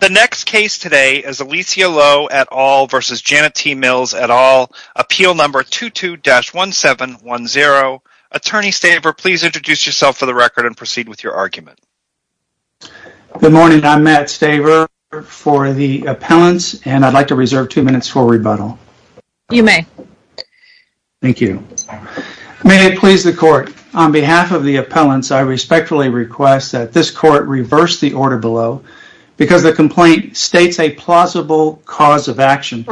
The next case today is Alicia Lowe et al. v. Janet T. Mills et al. Appeal number 22-1710. Attorney Staver, please introduce yourself for the record and proceed with your argument. Good morning. I'm Matt Staver for the appellants, and I'd like to reserve two minutes for rebuttal. You may. Thank you. May it please the court. On behalf of the appellants, I respectfully request that this court reverse the order below because the complaint states a plausible cause of action.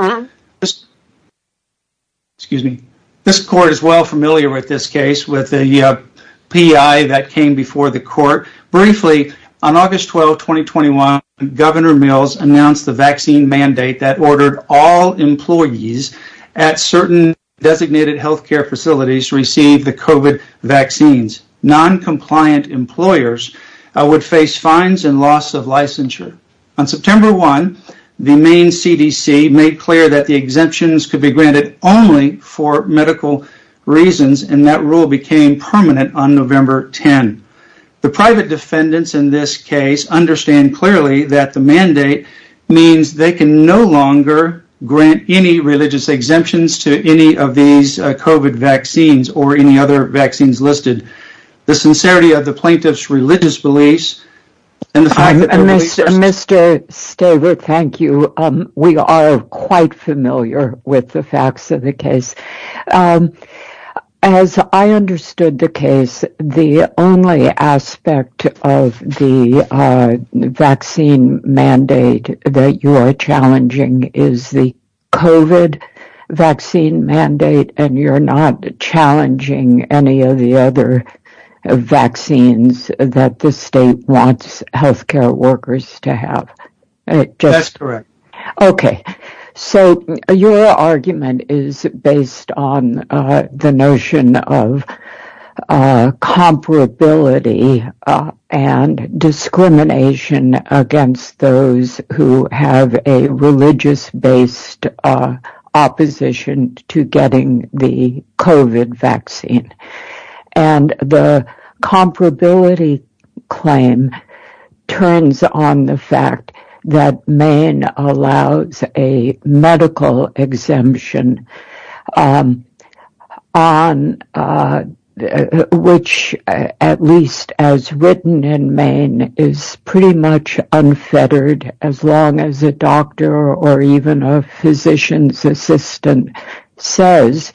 This court is well familiar with this case with the P.I. that came before the court. Briefly, on August 12, 2021, Governor Mills announced the vaccine mandate that ordered all employees at certain designated health care facilities receive the COVID vaccines. Noncompliant employers would face fines and loss of licensure. On September 1, the Maine CDC made clear that the exemptions could be granted only for medical reasons, and that rule became permanent on November 10. The private defendants in this case understand clearly that the mandate means they can no longer grant any religious exemptions to any of these COVID vaccines or any other vaccines listed. The sincerity of the plaintiff's religious beliefs and the fact that there is- Mr. Staver, thank you. We are quite familiar with the facts of the case. As I understood the case, the only aspect of the vaccine mandate that you are challenging is the COVID vaccine mandate, and you're not challenging any of the other vaccines that the state wants health care workers to have. That's correct. Okay, so your argument is based on the notion of comparability and discrimination against those who have a religious-based opposition to getting the COVID vaccine. The comparability claim turns on the fact that Maine allows a medical exemption, which, at least as written in Maine, is pretty much unfettered as long as a doctor or even a physician's assistant says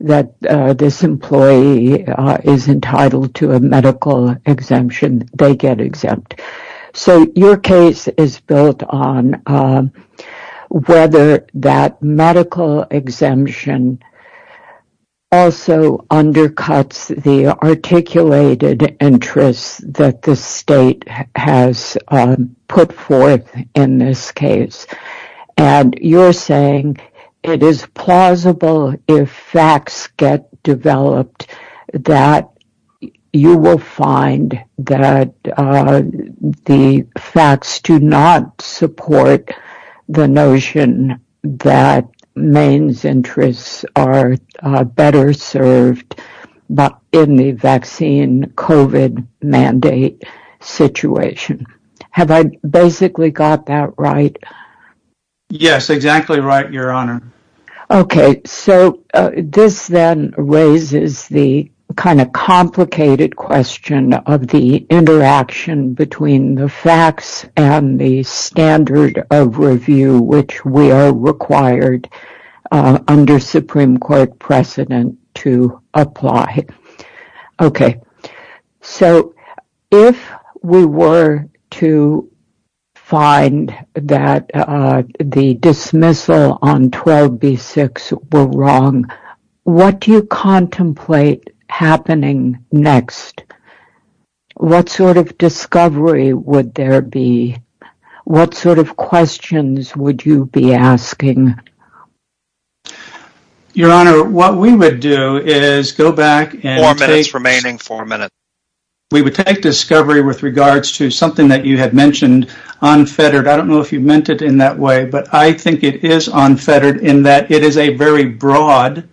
that this employee is entitled to a medical exemption, they get exempt. Your case is built on whether that medical exemption also undercuts the articulated interests that the state has put forth in this case. You're saying it is plausible if facts get developed that you will find that the facts do not support the notion that Maine's interests are better served in the vaccine COVID mandate situation. Have I basically got that right? Yes, exactly right, Your Honor. Okay, so this then raises the kind of complicated question of the interaction between the facts and the standard of review, which we are required under Supreme Court precedent to apply. Okay, so if we were to find that the dismissal on 12B6 were wrong, what do you contemplate happening next? What sort of discovery would there be? What sort of questions would you be asking? Your Honor, what we would do is go back and take discovery with regards to something that you had mentioned, unfettered. I don't know if you meant it in that way, but I think it is unfettered in that it is a very broad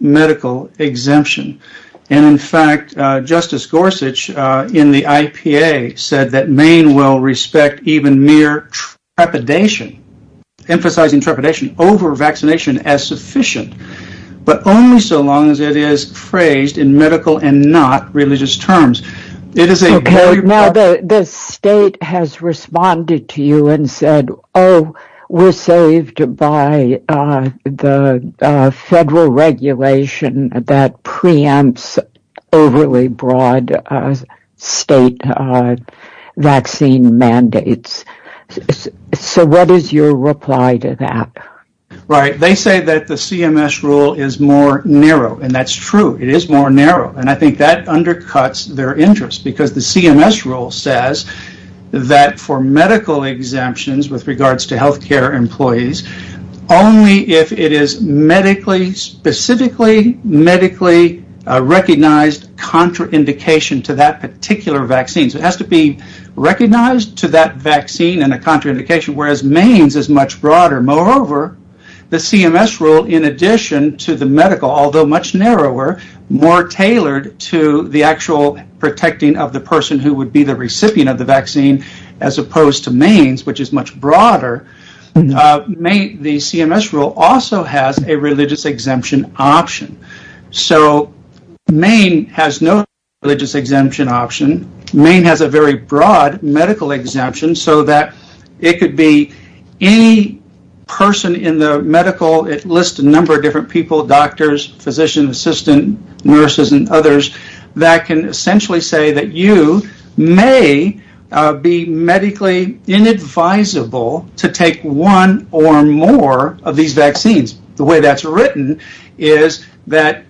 medical exemption. In fact, Justice Gorsuch in the IPA said that Maine will respect even mere trepidation, emphasizing trepidation over vaccination as sufficient, but only so long as it is phrased in medical and not religious terms. Okay, now the state has responded to you and said, oh, we're saved by the federal regulation that preempts overly broad state vaccine mandates. So what is your reply to that? Right, they say that the CMS rule is more narrow, and that's true. It is more narrow, and I think that undercuts their interest, because the CMS rule says that for medical exemptions with regards to healthcare employees, only if it is medically, specifically medically recognized contraindication to that particular vaccine. So it has to be recognized to that vaccine in a contraindication, whereas Maine's is much broader. Moreover, the CMS rule, in addition to the medical, although much narrower, more tailored to the actual protecting of the person who would be the recipient of the vaccine, as opposed to Maine's, which is much broader, the CMS rule also has a religious exemption option. So Maine has no religious exemption option. Maine has a very broad medical exemption, so that it could be any person in the medical, it lists a number of different people, doctors, physician, assistant, nurses, and others, that can essentially say that you may be medically inadvisable to take one or more of these vaccines. The way that's written is that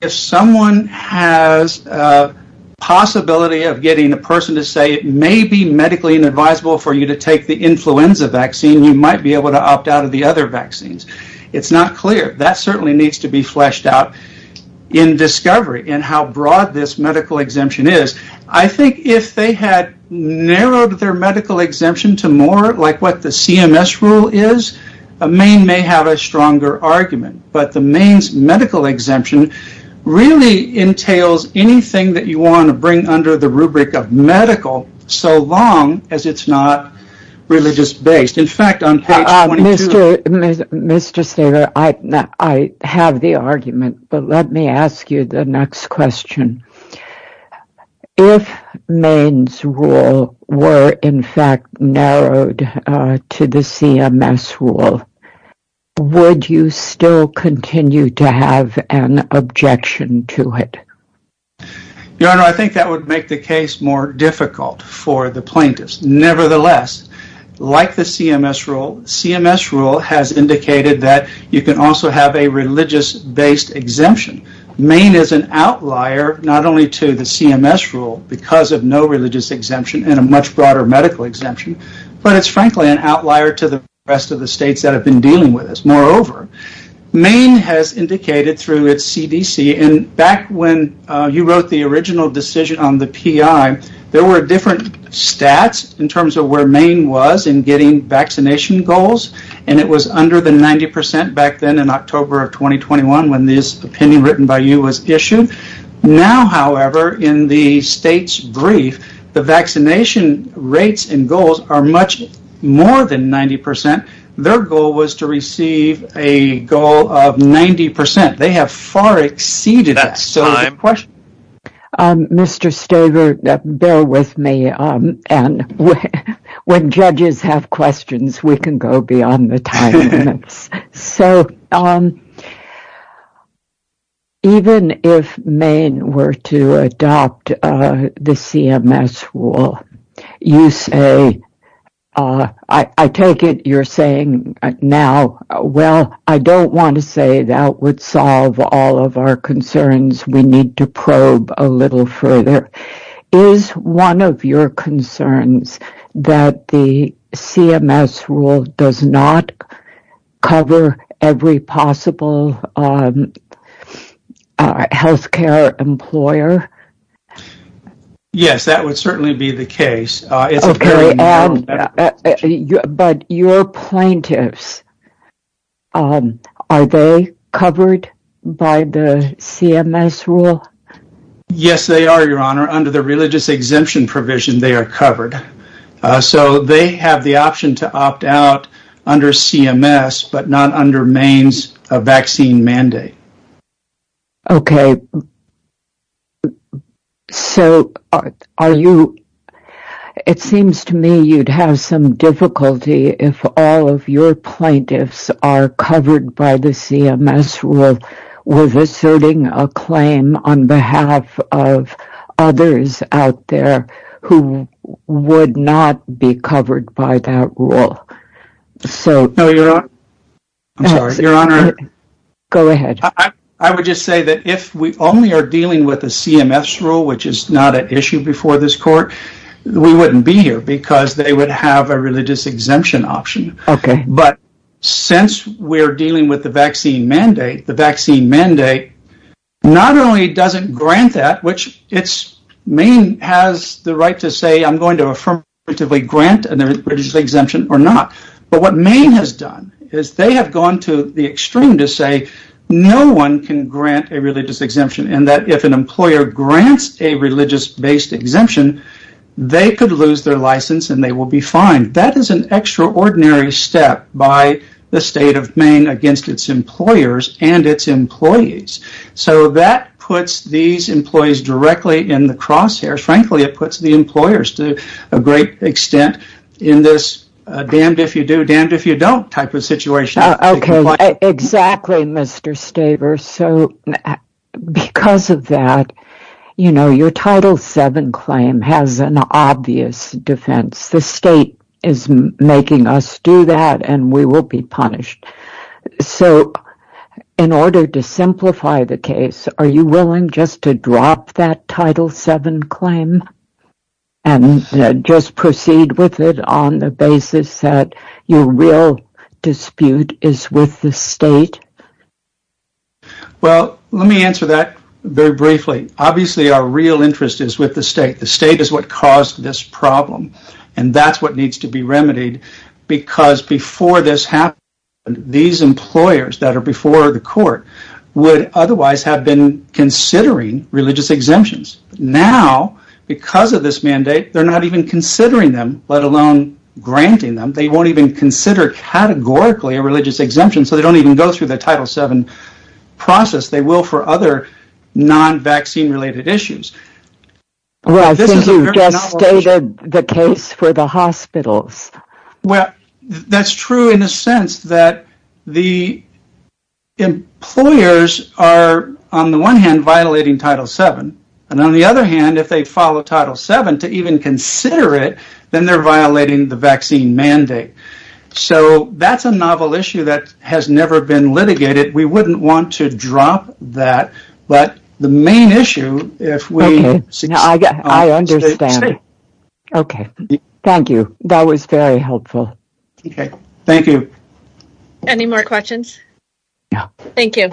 if someone has a possibility of getting a person to say it may be medically inadvisable for you to take the influenza vaccine, you might be able to opt out of the other vaccines. It's not clear. That certainly needs to be fleshed out in discovery in how broad this medical exemption is. I think if they had narrowed their medical exemption to more like what the CMS rule is, Maine may have a stronger argument. But the Maine's medical exemption really entails anything that you want to bring under the rubric of medical so long as it's not religious based. Mr. Steger, I have the argument, but let me ask you the next question. If Maine's rule were in fact narrowed to the CMS rule, would you still continue to have an objection to it? Your Honor, I think that would make the case more difficult for the plaintiffs. Nevertheless, like the CMS rule, CMS rule has indicated that you can also have a religious based exemption. Maine is an outlier not only to the CMS rule because of no religious exemption and a much broader medical exemption, but it's frankly an outlier to the rest of the states that have been dealing with this. Moreover, Maine has indicated through its CDC, and back when you wrote the original decision on the PI, there were different stats in terms of where Maine was in getting vaccination goals. It was under the 90% back then in October of 2021 when this opinion written by you was issued. Now, however, in the state's brief, the vaccination rates and goals are much more than 90%. Their goal was to receive a goal of 90%. They have far exceeded that. Mr. Steger, bear with me. When judges have questions, we can go beyond the time limits. So even if Maine were to adopt the CMS rule, you say, I take it you're saying now, well, I don't want to say that would solve all of our concerns. We need to probe a little further. Is one of your concerns that the CMS rule does not cover every possible healthcare employer? Yes, that would certainly be the case. But your plaintiffs, are they covered by the CMS rule? Yes, they are, Your Honor. Under the religious exemption provision, they are covered. So they have the option to opt out under CMS, but not under Maine's vaccine mandate. Okay. So are you, it seems to me you'd have some difficulty if all of your plaintiffs are covered by the CMS rule with asserting a claim on behalf of others out there who would not be covered by that rule. I'm sorry, Your Honor. Go ahead. I would just say that if we only are dealing with the CMS rule, which is not an issue before this court, we wouldn't be here because they would have a religious exemption option. Okay. But since we're dealing with the vaccine mandate, the vaccine mandate not only doesn't grant that, which Maine has the right to say I'm going to affirmatively grant a religious exemption or not. But what Maine has done is they have gone to the extreme to say no one can grant a religious exemption and that if an employer grants a religious-based exemption, they could lose their license and they will be fined. That is an extraordinary step by the state of Maine against its employers and its employees. So that puts these employees directly in the crosshairs. Frankly, it puts the employers to a great extent in this damned if you do, damned if you don't type of situation. Okay. Exactly, Mr. Staver. So because of that, you know, your Title VII claim has an obvious defense. The state is making us do that and we will be punished. So in order to simplify the case, are you willing just to drop that Title VII claim and just proceed with it on the basis that your real dispute is with the state? Well, let me answer that very briefly. Obviously, our real interest is with the state. The state is what caused this problem. And that's what needs to be remedied because before this happened, these employers that are before the court would otherwise have been considering religious exemptions. Now, because of this mandate, they're not even considering them, let alone granting them. They won't even consider categorically a religious exemption, so they don't even go through the Title VII process. They will for other non-vaccine-related issues. Well, I think you just stated the case for the hospitals. Well, that's true in a sense that the employers are, on the one hand, violating Title VII. And on the other hand, if they follow Title VII to even consider it, then they're violating the vaccine mandate. So that's a novel issue that has never been litigated. We wouldn't want to drop that. But the main issue, if we— Okay. I understand. Okay. Thank you. That was very helpful. Okay. Thank you. Any more questions? No. Thank you.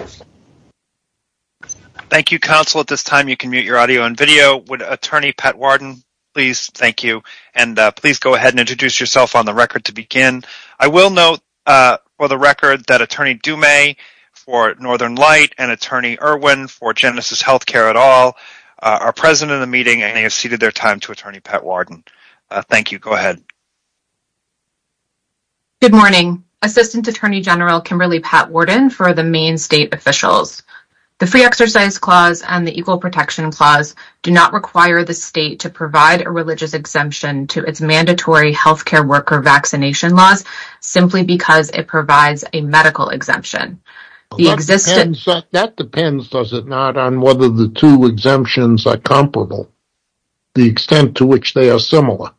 Thank you, counsel. At this time, you can mute your audio and video. Would Attorney Pat Warden please—thank you. And please go ahead and introduce yourself on the record to begin. I will note for the record that Attorney Dume for Northern Light and Attorney Irwin for Genesis Healthcare et al. are present in the meeting and they have ceded their time to Attorney Pat Warden. Thank you. Go ahead. Good morning. Assistant Attorney General Kimberly Pat Warden for the Maine State officials. The Free Exercise Clause and the Equal Protection Clause do not require the state to provide a religious exemption to its mandatory healthcare worker vaccination laws simply because it provides a medical exemption. That depends, does it not, on whether the two exemptions are comparable, the extent to which they are similar?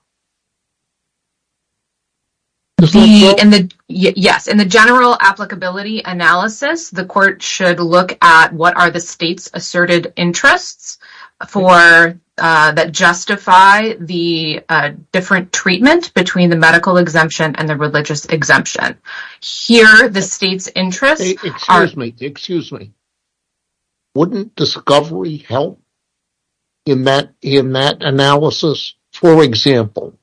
Does that help? Yes. In the general applicability analysis, the court should look at what are the state's asserted interests that justify the different treatment between the medical exemption and the religious exemption. Here, the state's interests are— Excuse me, wouldn't discovery help in that analysis? For example,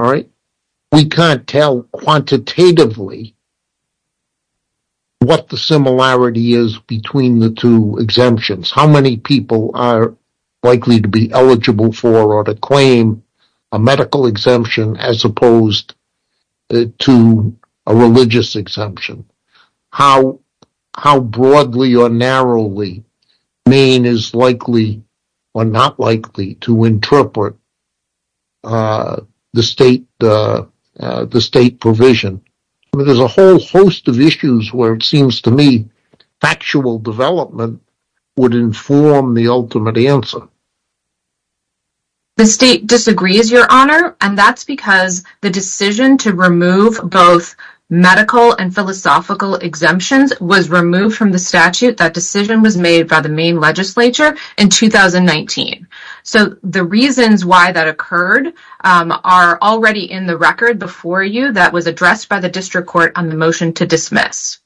we can't tell quantitatively what the similarity is between the two exemptions. How many people are likely to be eligible for or to claim a medical exemption as opposed to a religious exemption? How broadly or narrowly Maine is likely or not likely to interpret the state provision? There's a whole host of issues where it seems to me factual development would inform the ultimate answer. The state disagrees, Your Honor, and that's because the decision to remove both medical and philosophical exemptions was removed from the statute. That decision was made by the Maine legislature in 2019. The reasons why that occurred are already in the record before you that was addressed by the district court on the motion to dismiss.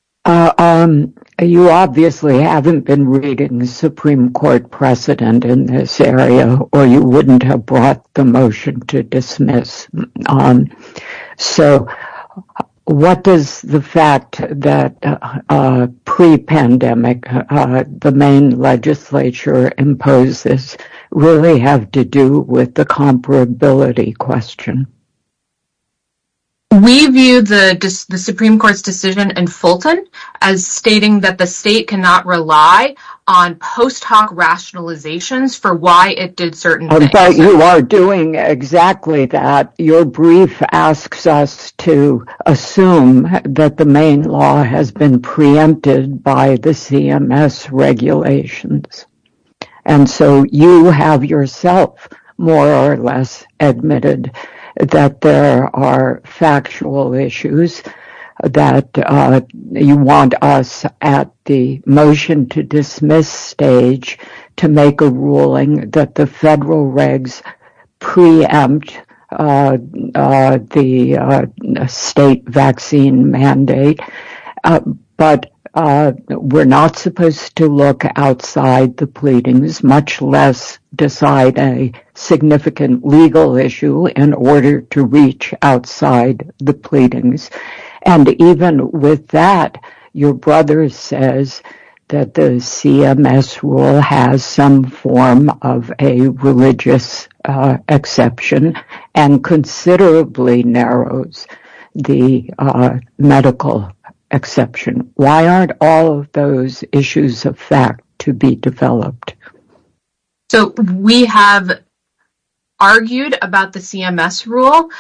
You obviously haven't been reading the Supreme Court precedent in this area, or you wouldn't have brought the motion to dismiss on. So, what does the fact that pre-pandemic the Maine legislature imposes really have to do with the comparability question? We view the Supreme Court's decision in Fulton as stating that the state cannot rely on post hoc rationalizations for why it did certain things. In fact, you are doing exactly that. Your brief asks us to assume that the Maine law has been preempted by the CMS regulations. And so you have yourself more or less admitted that there are factual issues that you want us at the motion to dismiss stage to make a ruling that the federal regs preempt the state vaccine mandate. But we're not supposed to look outside the pleadings, much less decide a significant legal issue in order to reach outside the pleadings. And even with that, your brother says that the CMS rule has some form of a religious exception and considerably narrows the medical exception. Why aren't all of those issues of fact to be developed? So, we have argued about the CMS rule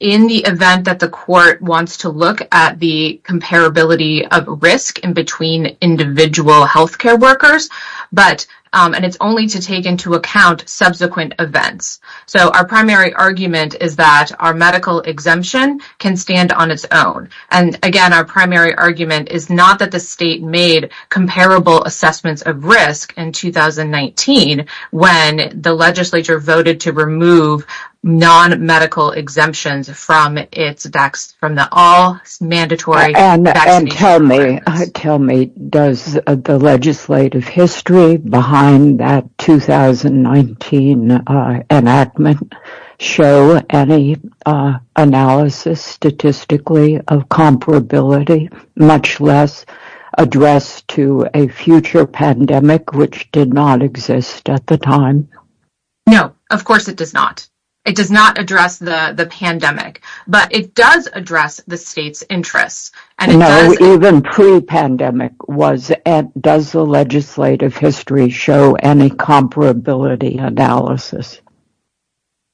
in the event that the court wants to look at the comparability of risk in between individual health care workers. But, and it's only to take into account subsequent events. So, our primary argument is that our medical exemption can stand on its own. And again, our primary argument is not that the state made comparable assessments of risk in 2019 when the legislature voted to remove non-medical exemptions from the all mandatory vaccination. Tell me, does the legislative history behind that 2019 enactment show any analysis statistically of comparability, much less address to a future pandemic, which did not exist at the time? No, of course it does not. It does not address the pandemic, but it does address the state's interests. No, even pre-pandemic, does the legislative history show any comparability analysis?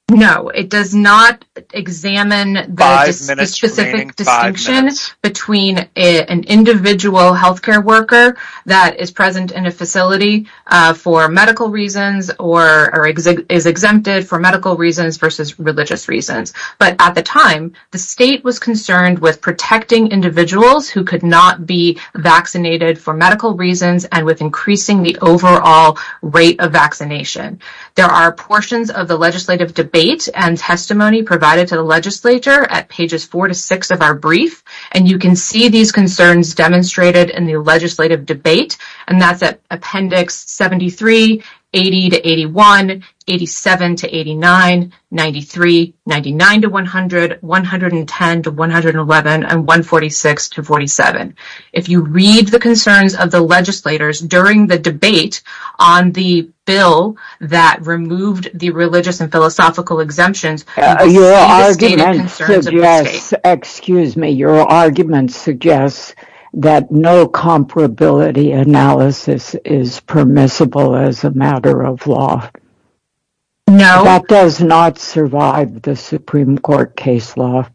No, it does not examine the specific distinction between an individual health care worker that is present in a facility for medical reasons or is exempted for medical reasons versus religious reasons. But at the time, the state was concerned with protecting individuals who could not be vaccinated for medical reasons and with increasing the overall rate of vaccination. There are portions of the legislative debate and testimony provided to the legislature at pages 4 to 6 of our brief. And you can see these concerns demonstrated in the legislative debate, and that's at appendix 73, 80 to 81, 87 to 89, 93, 99 to 100, 110 to 111, and 146 to 47. If you read the concerns of the legislators during the debate on the bill that removed the religious and philosophical exemptions, you can see the stated concerns of the state. Your argument suggests that no comparability analysis is permissible as a matter of law. No. That does not survive the Supreme Court case law.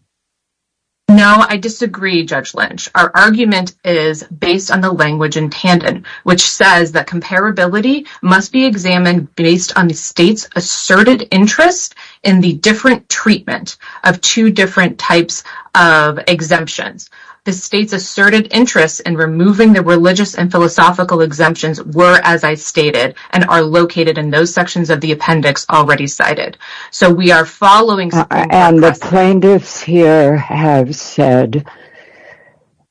No, I disagree, Judge Lynch. Our argument is based on the language in Tandon, which says that comparability must be examined based on the state's asserted interest in the different treatment of two different types of exemptions. The state's asserted interest in removing the religious and philosophical exemptions were, as I stated, and are located in those sections of the appendix already cited. And the plaintiffs here have said,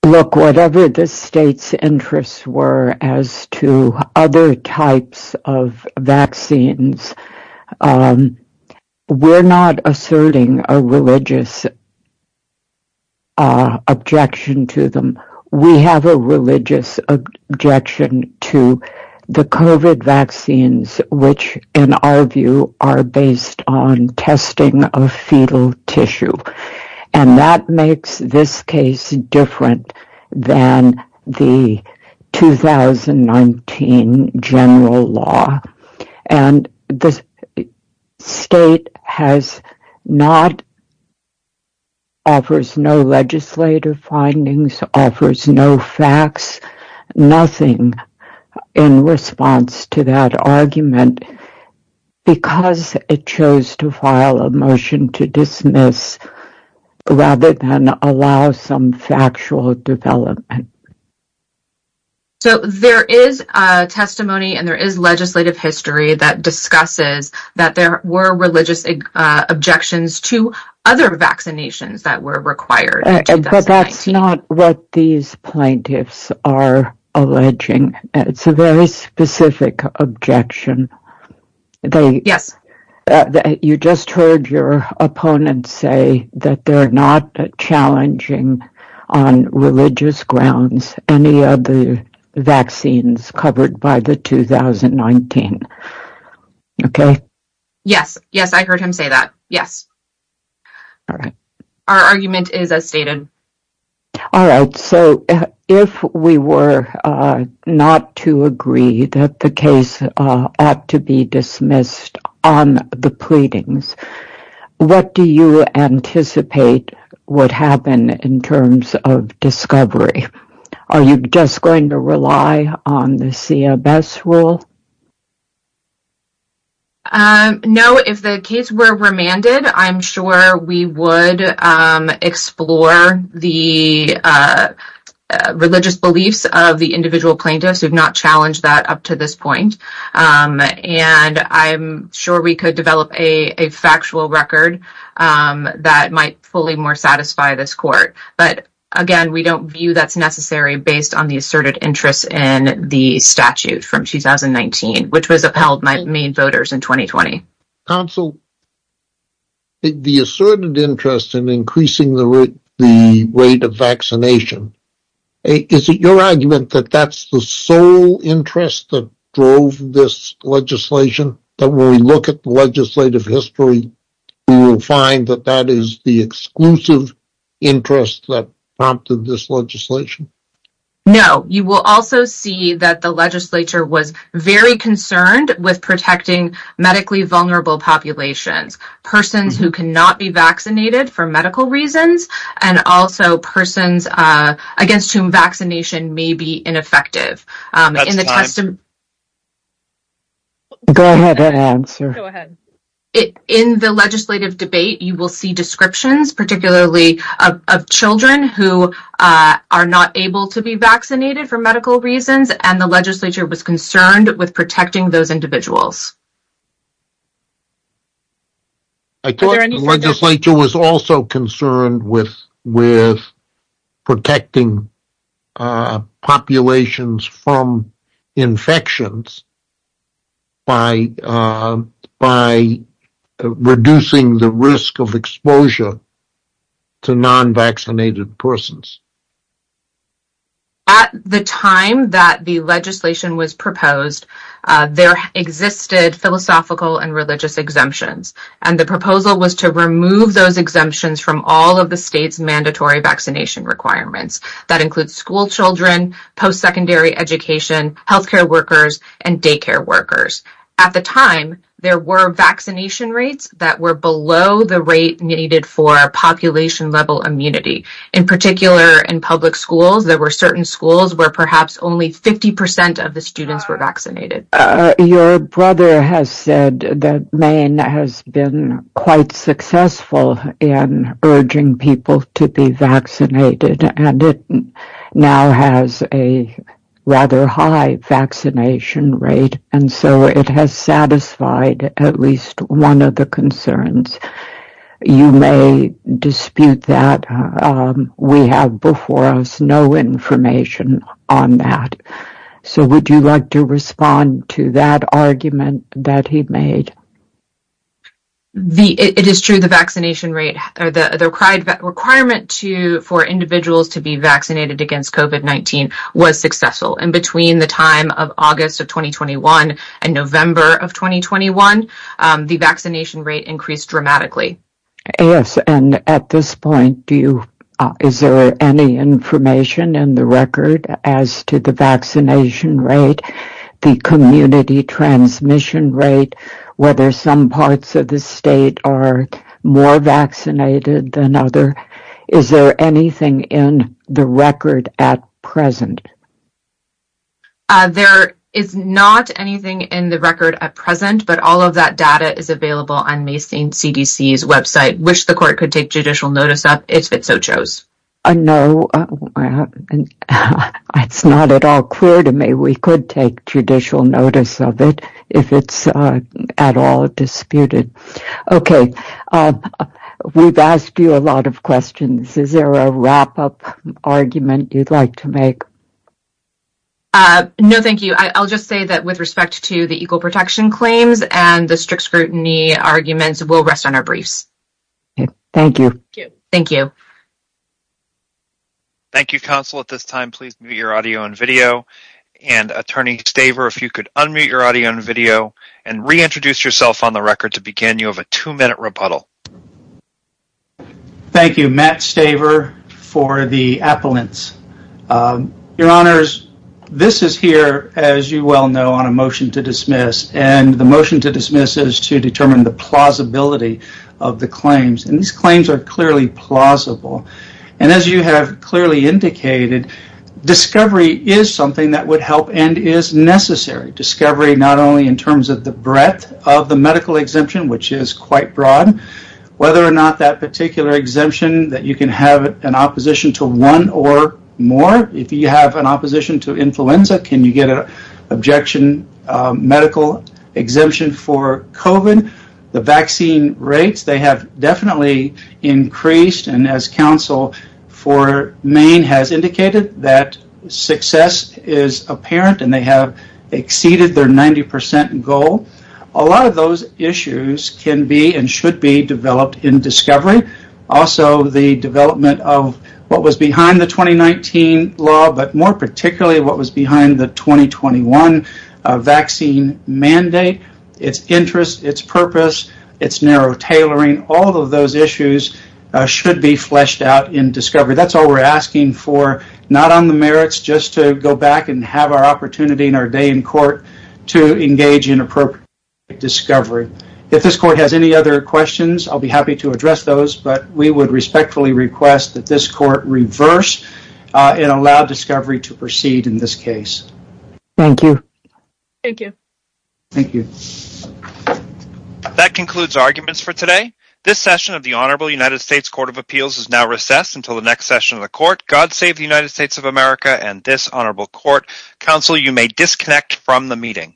look, whatever the state's interests were as to other types of vaccines, we're not asserting a religious objection to them. Our argument is based on testing of fetal tissue, and that makes this case different than the 2019 general law. And the state has not, offers no legislative findings, offers no facts, nothing in response to that argument because it chose to file a motion to dismiss rather than allow some factual development. So there is testimony and there is legislative history that discusses that there were religious objections to other vaccinations that were required. But that's not what these plaintiffs are alleging. It's a very specific objection. Yes. You just heard your opponent say that they're not challenging on religious grounds any of the vaccines covered by the 2019. Okay. Yes. Yes, I heard him say that. Yes. All right. Our argument is as stated. All right. So if we were not to agree that the case ought to be dismissed on the pleadings, what do you anticipate would happen in terms of discovery? Are you just going to rely on the CMS rule? No, if the case were remanded, I'm sure we would explore the religious beliefs of the individual plaintiffs. We've not challenged that up to this point. And I'm sure we could develop a factual record that might fully more satisfy this court. But, again, we don't view that's necessary based on the asserted interest in the statute from 2019, which was upheld by main voters in 2020. Counsel, the asserted interest in increasing the rate of vaccination, is it your argument that that's the sole interest that drove this legislation? That when we look at the legislative history, we will find that that is the exclusive interest that prompted this legislation? No. You will also see that the legislature was very concerned with protecting medically vulnerable populations, persons who cannot be vaccinated for medical reasons, and also persons against whom vaccination may be ineffective. Go ahead and answer. In the legislative debate, you will see descriptions, particularly of children who are not able to be vaccinated for medical reasons, and the legislature was concerned with protecting those individuals. I thought the legislature was also concerned with protecting populations from infections by reducing the risk of exposure to non-vaccinated persons. At the time that the legislation was proposed, there existed philosophical and religious exemptions, and the proposal was to remove those exemptions from all of the state's mandatory vaccination requirements. That includes school children, post-secondary education, healthcare workers, and daycare workers. At the time, there were vaccination rates that were below the rate needed for population level immunity. In particular, in public schools, there were certain schools where perhaps only 50% of the students were vaccinated. Your brother has said that Maine has been quite successful in urging people to be vaccinated, and it now has a rather high vaccination rate, and so it has satisfied at least one of the concerns. You may dispute that. We have before us no information on that. Would you like to respond to that argument that he made? It is true that the requirement for individuals to be vaccinated against COVID-19 was successful. Between the time of August of 2021 and November of 2021, the vaccination rate increased dramatically. Yes, and at this point, is there any information in the record as to the vaccination rate, the community transmission rate, whether some parts of the state are more vaccinated than others? Is there anything in the record at present? There is not anything in the record at present, but all of that data is available on the CDC's website. I wish the court could take judicial notice of it if it so chose. No, it's not at all clear to me we could take judicial notice of it if it's at all disputed. Okay. We've asked you a lot of questions. Is there a wrap-up argument you'd like to make? No, thank you. I'll just say that with respect to the equal protection claims and the strict scrutiny arguments, we'll rest on our briefs. Thank you. Thank you. Thank you, counsel. At this time, please mute your audio and video. And, Attorney Staver, if you could unmute your audio and video and reintroduce yourself on the record to begin, you have a two-minute rebuttal. Thank you, Matt Staver, for the appellants. Your Honors, this is here, as you well know, on a motion to dismiss. And the motion to dismiss is to determine the plausibility of the claims. And these claims are clearly plausible. And as you have clearly indicated, discovery is something that would help and is necessary, discovery not only in terms of the breadth of the medical exemption, which is quite broad, whether or not that particular exemption that you can have an opposition to one or more. If you have an opposition to influenza, can you get an objection medical exemption for COVID? The vaccine rates, they have definitely increased. And as counsel for Maine has indicated, that success is apparent and they have exceeded their 90% goal. A lot of those issues can be and should be developed in discovery. Also, the development of what was behind the 2019 law, but more particularly what was behind the 2021 vaccine mandate, its interest, its purpose, its narrow tailoring, all of those issues should be fleshed out in discovery. That's all we're asking for, not on the merits just to go back and have our opportunity in our day in court to engage in appropriate discovery. If this court has any other questions, I'll be happy to address those. But we would respectfully request that this court reverse and allow discovery to proceed in this case. Thank you. Thank you. Thank you. That concludes arguments for today. This session of the Honorable United States Court of Appeals is now recessed until the next session of the court. God save the United States of America and this honorable court. Counsel, you may disconnect from the meeting.